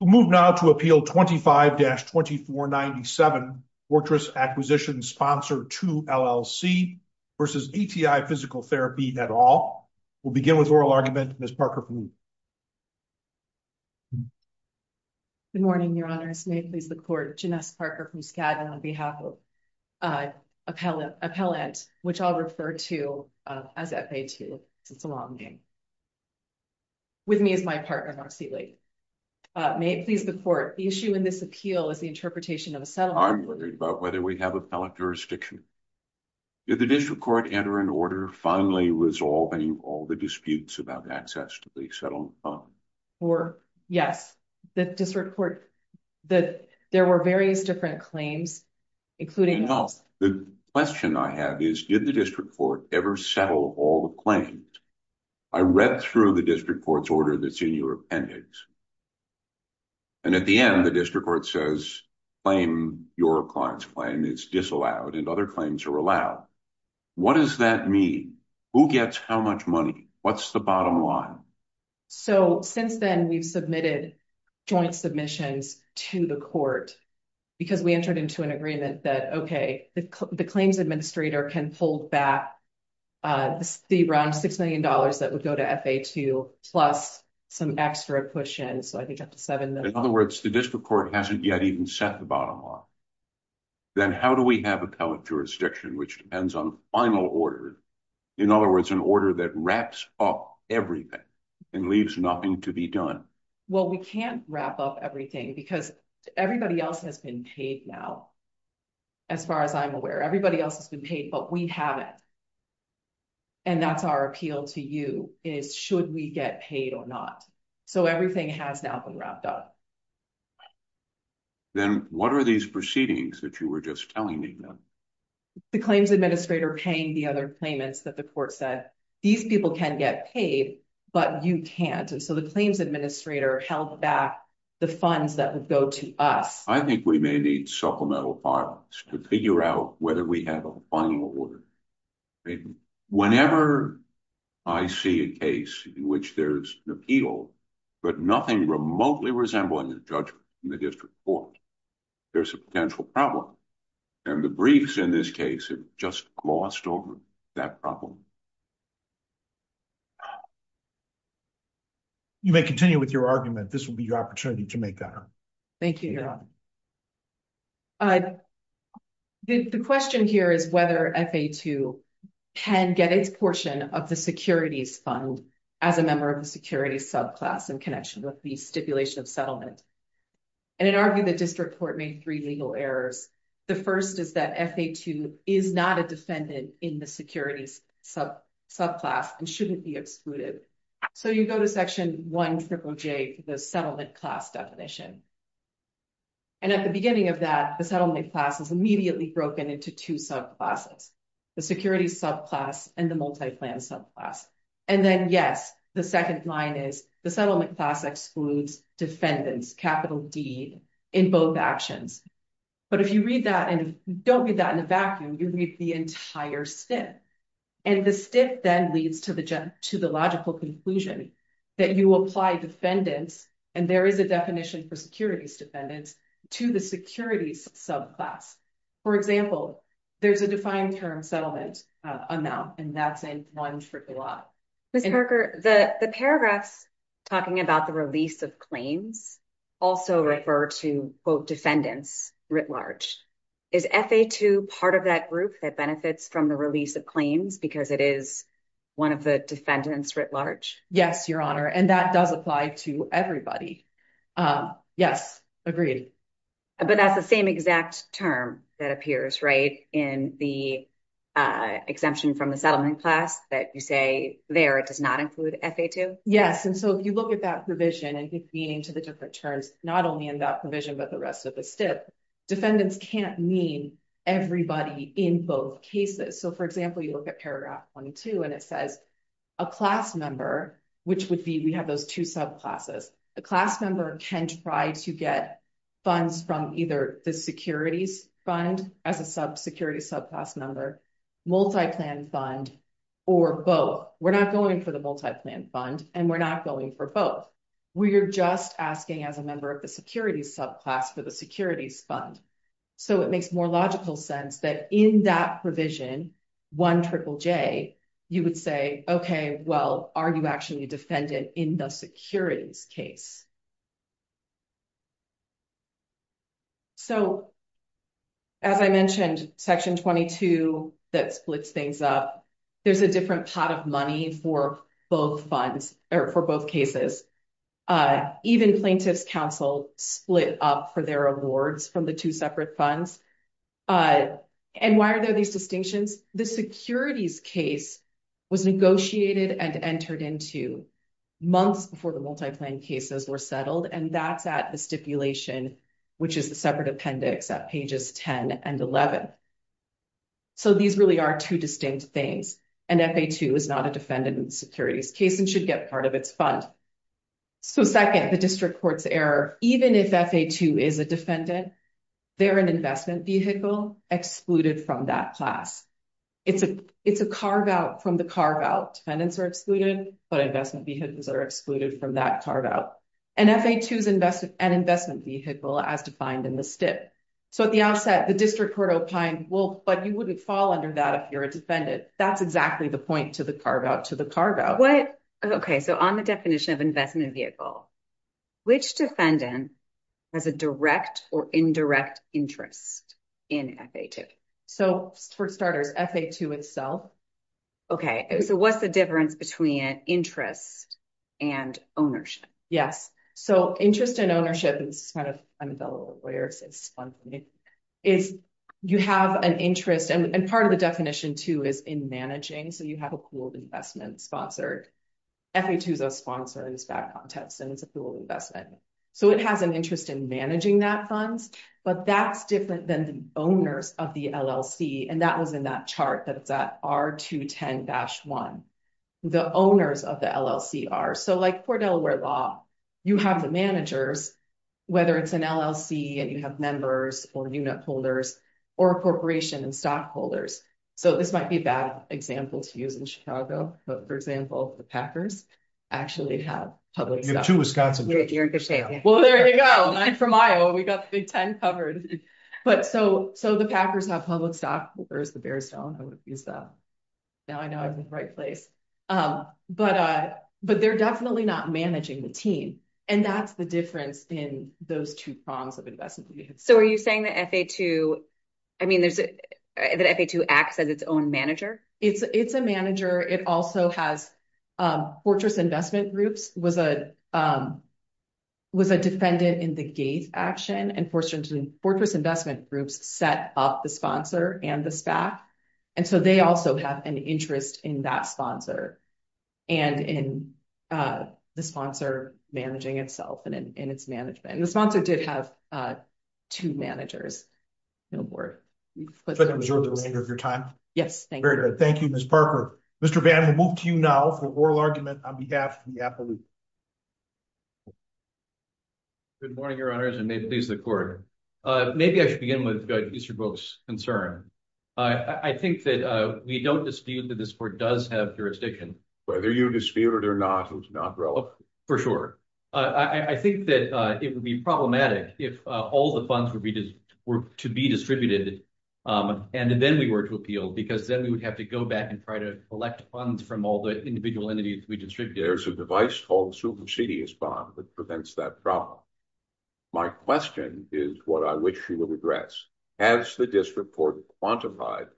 We'll move now to Appeal 25-2497, Fortress Acquisition Sponsor II, LLC versus ATI Physical Therapy, et al. We'll begin with oral argument, Ms. Parker-Fluh. Good morning, your honors. May it please the court, Janess Parker-Fluh, Skadden, on behalf of Appellant, which I'll refer to as FA2, since it's a long name, with me as my partner, Marcy Lee. May it please the court, the issue in this appeal is the interpretation of a settlement. I'm worried about whether we have appellate jurisdiction. Did the district court enter an order finally resolving all the disputes about access to the settlement fund? Or, yes, the district court, that there were various different claims, including- No, the question I have is, did the district court ever settle all the claims? I read through the district court's order that's in your appendix. And at the end, the district court says, claim your client's claim, it's disallowed, and other claims are allowed. What does that mean? Who gets how much money? What's the bottom line? So, since then, we've submitted joint submissions to the court, because we entered into an agreement that, okay, the claims administrator can hold back the round $6 million that would go to FA2, plus some extra push-in, so I think up to $7 million. In other words, the district court hasn't yet even set the bottom line. Then how do we have appellate jurisdiction, which depends on final order? In other words, an order that wraps up everything and leaves nothing to be done. Well, we can't wrap up everything, because everybody else has been paid now, as far as I'm aware. Everybody else has been paid, but we haven't. And that's our appeal to you, is should we get paid or not? So everything has now been wrapped up. Then what are these proceedings that you were just telling me about? The claims administrator paying the other claimants that the court said, these people can get paid, but you can't, and so the claims administrator held back the funds that would go to us. I think we may need supplemental files to figure out whether we have a final order. I mean, whenever I see a case in which there's an appeal, but nothing remotely resembling a judgment in the district court, there's a potential problem. And the briefs in this case have just glossed over that problem. You may continue with your argument. This will be your opportunity to make that argument. Thank you. You're welcome. The question here is whether FA2 can get its portion of the securities fund as a member of the securities subclass in connection with the stipulation of settlement. And it argued the district court made three legal errors. The first is that FA2 is not a defendant in the securities subclass and shouldn't be excluded. So you go to section one triple J, the settlement class definition. And at the beginning of that, the settlement class is immediately broken into two subclasses, the securities subclass and the multi-plan subclass. And then yes, the second line is the settlement class excludes defendants, capital D in both actions. But if you read that and don't read that in a vacuum, you read the entire stip. And the stip then leads to the logical conclusion that you apply defendants, and there is a definition for securities defendants to the securities subclass. For example, there's a defined term settlement amount and that's in one triple I. Ms. Parker, the paragraphs talking about the release of claims also refer to quote defendants writ large. Is FA2 part of that group that benefits from the release of claims because it is one of the defendants writ large? Yes, your honor. And that does apply to everybody. Yes, agreed. But that's the same exact term that appears, right? In the exemption from the settlement class that you say there, it does not include FA2? Yes, and so if you look at that provision and keep meaning to the different terms, not only in that provision, but the rest of the stip, defendants can't mean everybody in both cases. So for example, you look at paragraph one and two and it says a class member, which would be, we have those two subclasses. A class member can try to get funds from either the securities fund as a sub security subclass member, multi-plan fund or both. We're not going for the multi-plan fund and we're not going for both. We are just asking as a member of the security subclass for the securities fund. So it makes more logical sense that in that provision, one triple J, you would say, okay, well, are you actually a defendant in the securities case? So as I mentioned, section 22, that splits things up, there's a different pot of money for both funds or for both cases. Even plaintiff's counsel split up for their awards from the two separate funds. And why are there these distinctions? The securities case was negotiated and entered into months before the multi-plan cases were settled and that's at the stipulation, which is the separate appendix at pages 10 and 11. So these really are two distinct things and FA2 is not a defendant in the securities case and should get part of its fund. So second, the district court's error, even if FA2 is a defendant, they're an investment vehicle excluded from that class. It's a carve-out from the carve-out, defendants are excluded, but investment vehicles are excluded from that carve-out. And FA2 is an investment vehicle as defined in the stip. So at the outset, the district court opined, well, but you wouldn't fall under that if you're a defendant that's exactly the point to the carve-out to the carve-out. Okay, so on the definition of investment vehicle, which defendant has a direct or indirect interest in FA2? So for starters, FA2 itself. Okay, so what's the difference between interest and ownership? Yes, so interest and ownership is kind of, I'm a fellow lawyer so it's fun for me, is you have an interest and part of the definition too is in managing. So you have a pool of investment sponsored. FA2 is a sponsor in this background test and it's a pool of investment. So it has an interest in managing that funds, but that's different than the owners of the LLC. And that was in that chart that's at R210-1. The owners of the LLC are, so like for Delaware Law, you have the managers, whether it's an LLC and you have members or unit holders or a corporation and stockholders. So this might be a bad example to use in Chicago, but for example, the Packers actually have public stock. You're in good shape. Well, there you go, I'm from Iowa. We got the big 10 covered. But so the Packers have public stock, where's the Bearstone? I would have used that. Now I know I'm in the right place. But they're definitely not managing the team and that's the difference in those two prongs of investment. So are you saying that FA2, I mean, that FA2 acts as its own manager? It's a manager. It also has Fortress Investment Groups which was a defendant in the Gates action and Fortress Investment Groups set up the sponsor and the SPAC. And so they also have an interest in that sponsor and in the sponsor managing itself and in its management. The sponsor did have two managers. No more. You've put them- I'm sure they're ahead of your time. Yes, thank you. Very good, thank you, Ms. Parker. Mr. Bannon, we'll move to you now for oral argument on behalf of the appellate. Good morning, your honors, and may it please the court. Maybe I should begin with Mr. Brooks' concern. I think that we don't dispute that this court does have jurisdiction. Whether you dispute it or not, it's not relevant. For sure. I think that it would be problematic if all the funds were to be distributed and then we were to appeal because then we would have to go back and try to collect funds from all the individual entities we distributed. There's a device called a supersedious bond that prevents that problem. My question is what I wish you would address. Has the district court quantified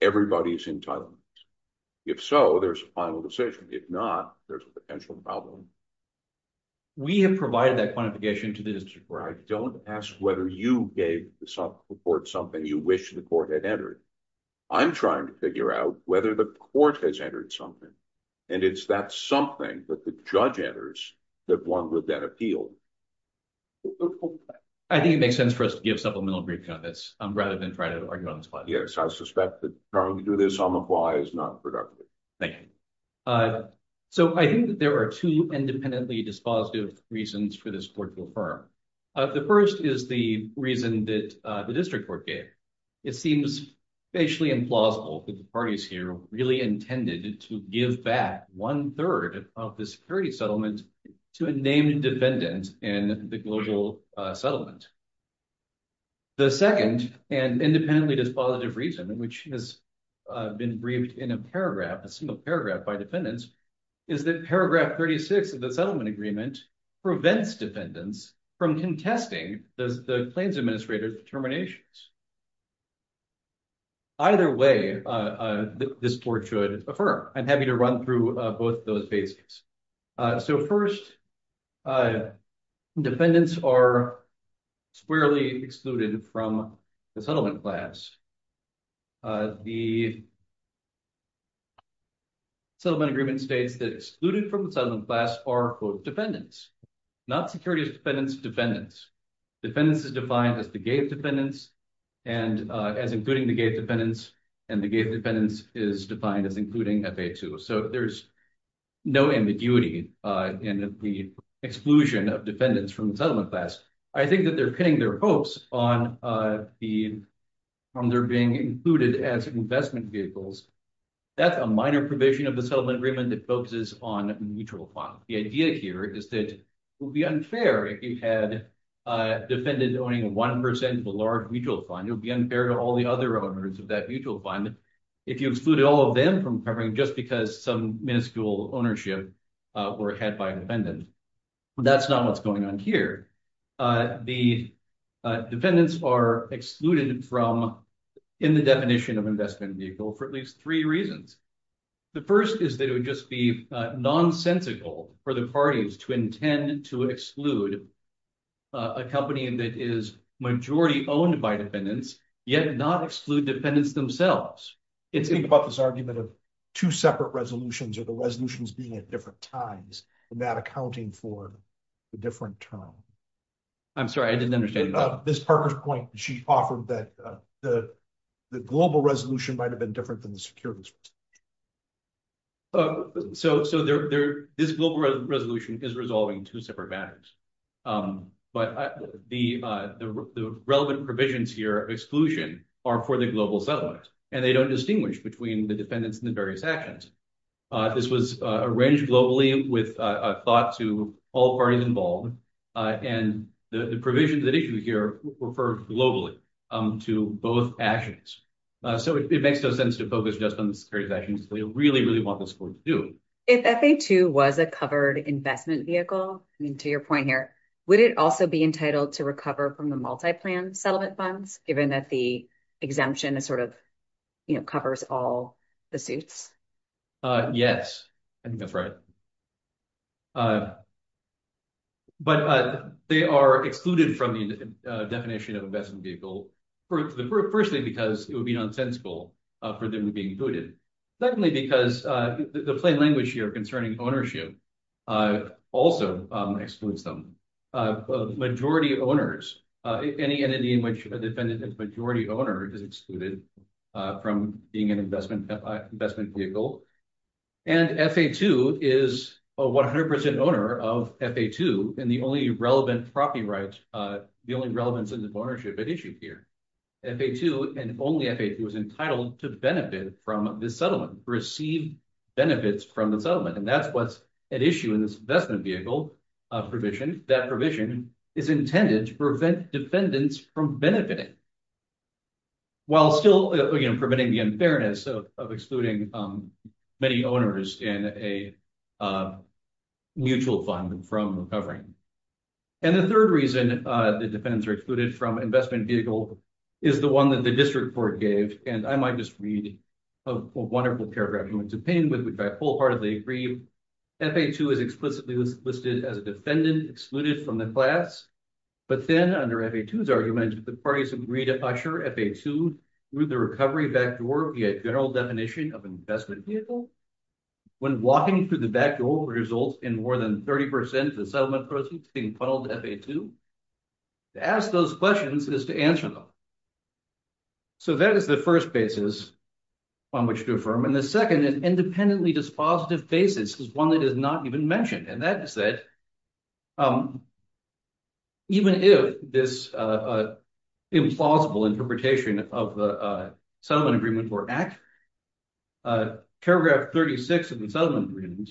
everybody's entitlements? If so, there's a final decision. If not, there's a potential problem. We have provided that quantification to the district court. I don't ask whether you gave the court something you wish the court had entered. I'm trying to figure out whether the court has entered something. And it's that something that the judge enters that one would then appeal. I think it makes sense for us to give supplemental brief on this rather than try to argue on the spot. Yes, I suspect that trying to do this on the fly is not productive. Thank you. So I think that there are two independently dispositive reasons for this court to affirm. The first is the reason that the district court gave. It seems facially implausible that the parties here really intended to give back one third of the security settlement to a named defendant in the global settlement. The second and independently dispositive reason which has been briefed in a paragraph, a single paragraph by defendants is that paragraph 36 of the settlement agreement prevents defendants from contesting the claims administrator's determinations. Either way, this court should affirm. I'm happy to run through both of those basics. So first, defendants are squarely excluded from the settlement class. The settlement agreement states that excluded from the settlement class are both defendants, not security defendants, defendants. Defendants is defined as the gated defendants and as including the gated defendants and the gated defendants is defined as including FA2. So there's no ambiguity in the exclusion of defendants from the settlement class. I think that they're pinning their hopes on their being included as investment vehicles. That's a minor provision of the settlement agreement that focuses on mutual funds. The idea here is that it would be unfair if you had a defendant owning 1% of a large mutual fund. It would be unfair to all the other owners of that mutual fund. If you excluded all of them from covering just because some minuscule ownership were had by a defendant, that's not what's going on here. The defendants are excluded from, in the definition of investment vehicle for at least three reasons. The first is that it would just be nonsensical for the parties to intend to exclude a company that is majority owned by defendants yet not exclude defendants themselves. It's- Think about this argument of two separate resolutions or the resolutions being at different times and that accounting for the different term. I'm sorry, I didn't understand. Ms. Parker's point. She offered that the global resolution might've been different than the securities. So this global resolution is resolving two separate matters. But the relevant provisions here of exclusion are for the global settlement and they don't distinguish between the defendants and the various actions. This was arranged globally with a thought to all parties involved. And the provisions that issue here refer globally to both actions. So it makes no sense to focus just on the securities actions that we really, really want this court to do. If FA2 was a covered investment vehicle, I mean, to your point here, would it also be entitled to recover from the multi-plan settlement funds given that the exemption is sort of, covers all the suits? Yes, I think that's right. But they are excluded from the definition of investment vehicle. Firstly, because it would be nonsensical for them to be included. Secondly, because the plain language here concerning ownership also excludes them. Majority owners, any entity in which a defendant is majority owner is excluded from being an investment vehicle. And FA2 is a 100% owner of FA2 and the only relevant property rights, the only relevance in the ownership at issue here. FA2 and only FA2 is entitled to benefit from this settlement, receive benefits from the settlement. And that's what's at issue in this investment vehicle provision. That provision is intended to prevent defendants from benefiting while still preventing the unfairness of excluding many owners in a mutual fund from recovering. And the third reason the defendants are excluded from investment vehicle is the one that the district court gave. And I might just read a wonderful paragraph going to pain with which I wholeheartedly agree. FA2 is explicitly listed as a defendant excluded from the class. But then under FA2's argument, the parties agreed to usher FA2 through the recovery backdoor via general definition of investment vehicle. When walking through the backdoor will result in more than 30% of the settlement proceeds being funneled to FA2? To ask those questions is to answer them. So that is the first basis on which to affirm. And the second is independently dispositive basis is one that is not even mentioned. And that is that even if this implausible interpretation of the settlement agreement were accurate, paragraph 36 of the settlement agreement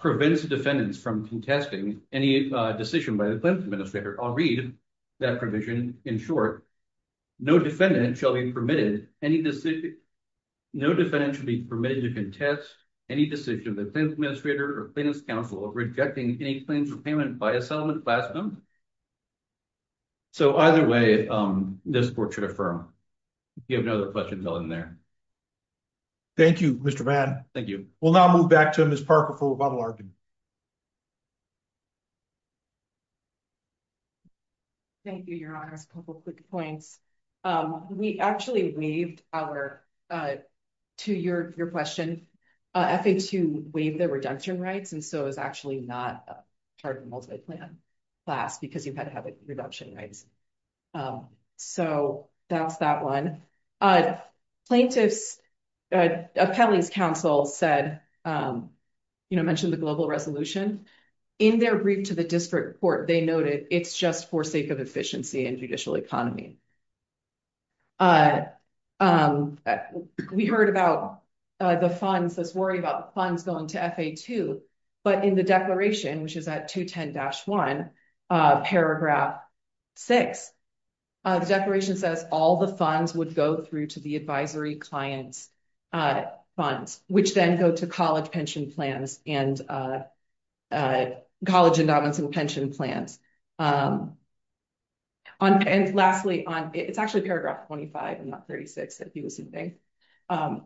prevents the defendants from contesting any decision by the claims administrator. I'll read that provision in short. No defendant shall be permitted any decision. No defendant should be permitted to contest any decision of the claims administrator or claims counsel rejecting any claims repayment by a settlement class. So either way, this court should affirm. If you have another question, fill in there. Thank you, Mr. Vann. Thank you. We'll now move back to Ms. Parker for rebuttal argument. Thank you, your honors. A couple of quick points. We actually waived our, to your question, FA2 waived the redemption rights. And so it was actually not a chartered multi-plan class because you've had to have a redemption rights. So that's that one. Plaintiffs, a penalties counsel said, mentioned the global resolution. In their brief to the district court, they noted it's just for sake of efficiency and judicial economy. We heard about the funds, this worry about the funds going to FA2, but in the declaration, which is at 210-1, paragraph six, the declaration says all the funds would go through to the advisory clients' funds, which then go to college pension plans and college endowments and pension plans. And lastly, it's actually paragraph 25 and not 36, if you were to think.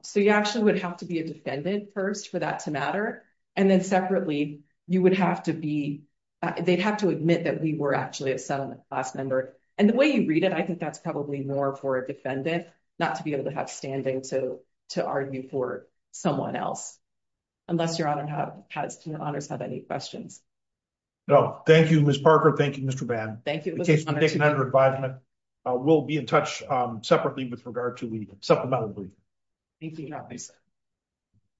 So you actually would have to be a defendant first for that to matter. And then separately, you would have to be, they'd have to admit that we were actually a settlement class member. And the way you read it, I think that's probably more for a defendant not to be able to have standing to argue for someone else, unless your honors have any questions. No, thank you, Ms. Parker. Thank you, Mr. Bann. Thank you, Mr. Bann. In case you want to take an under advisement, we'll be in touch separately with regard to, supplementarily. Thank you, your honor.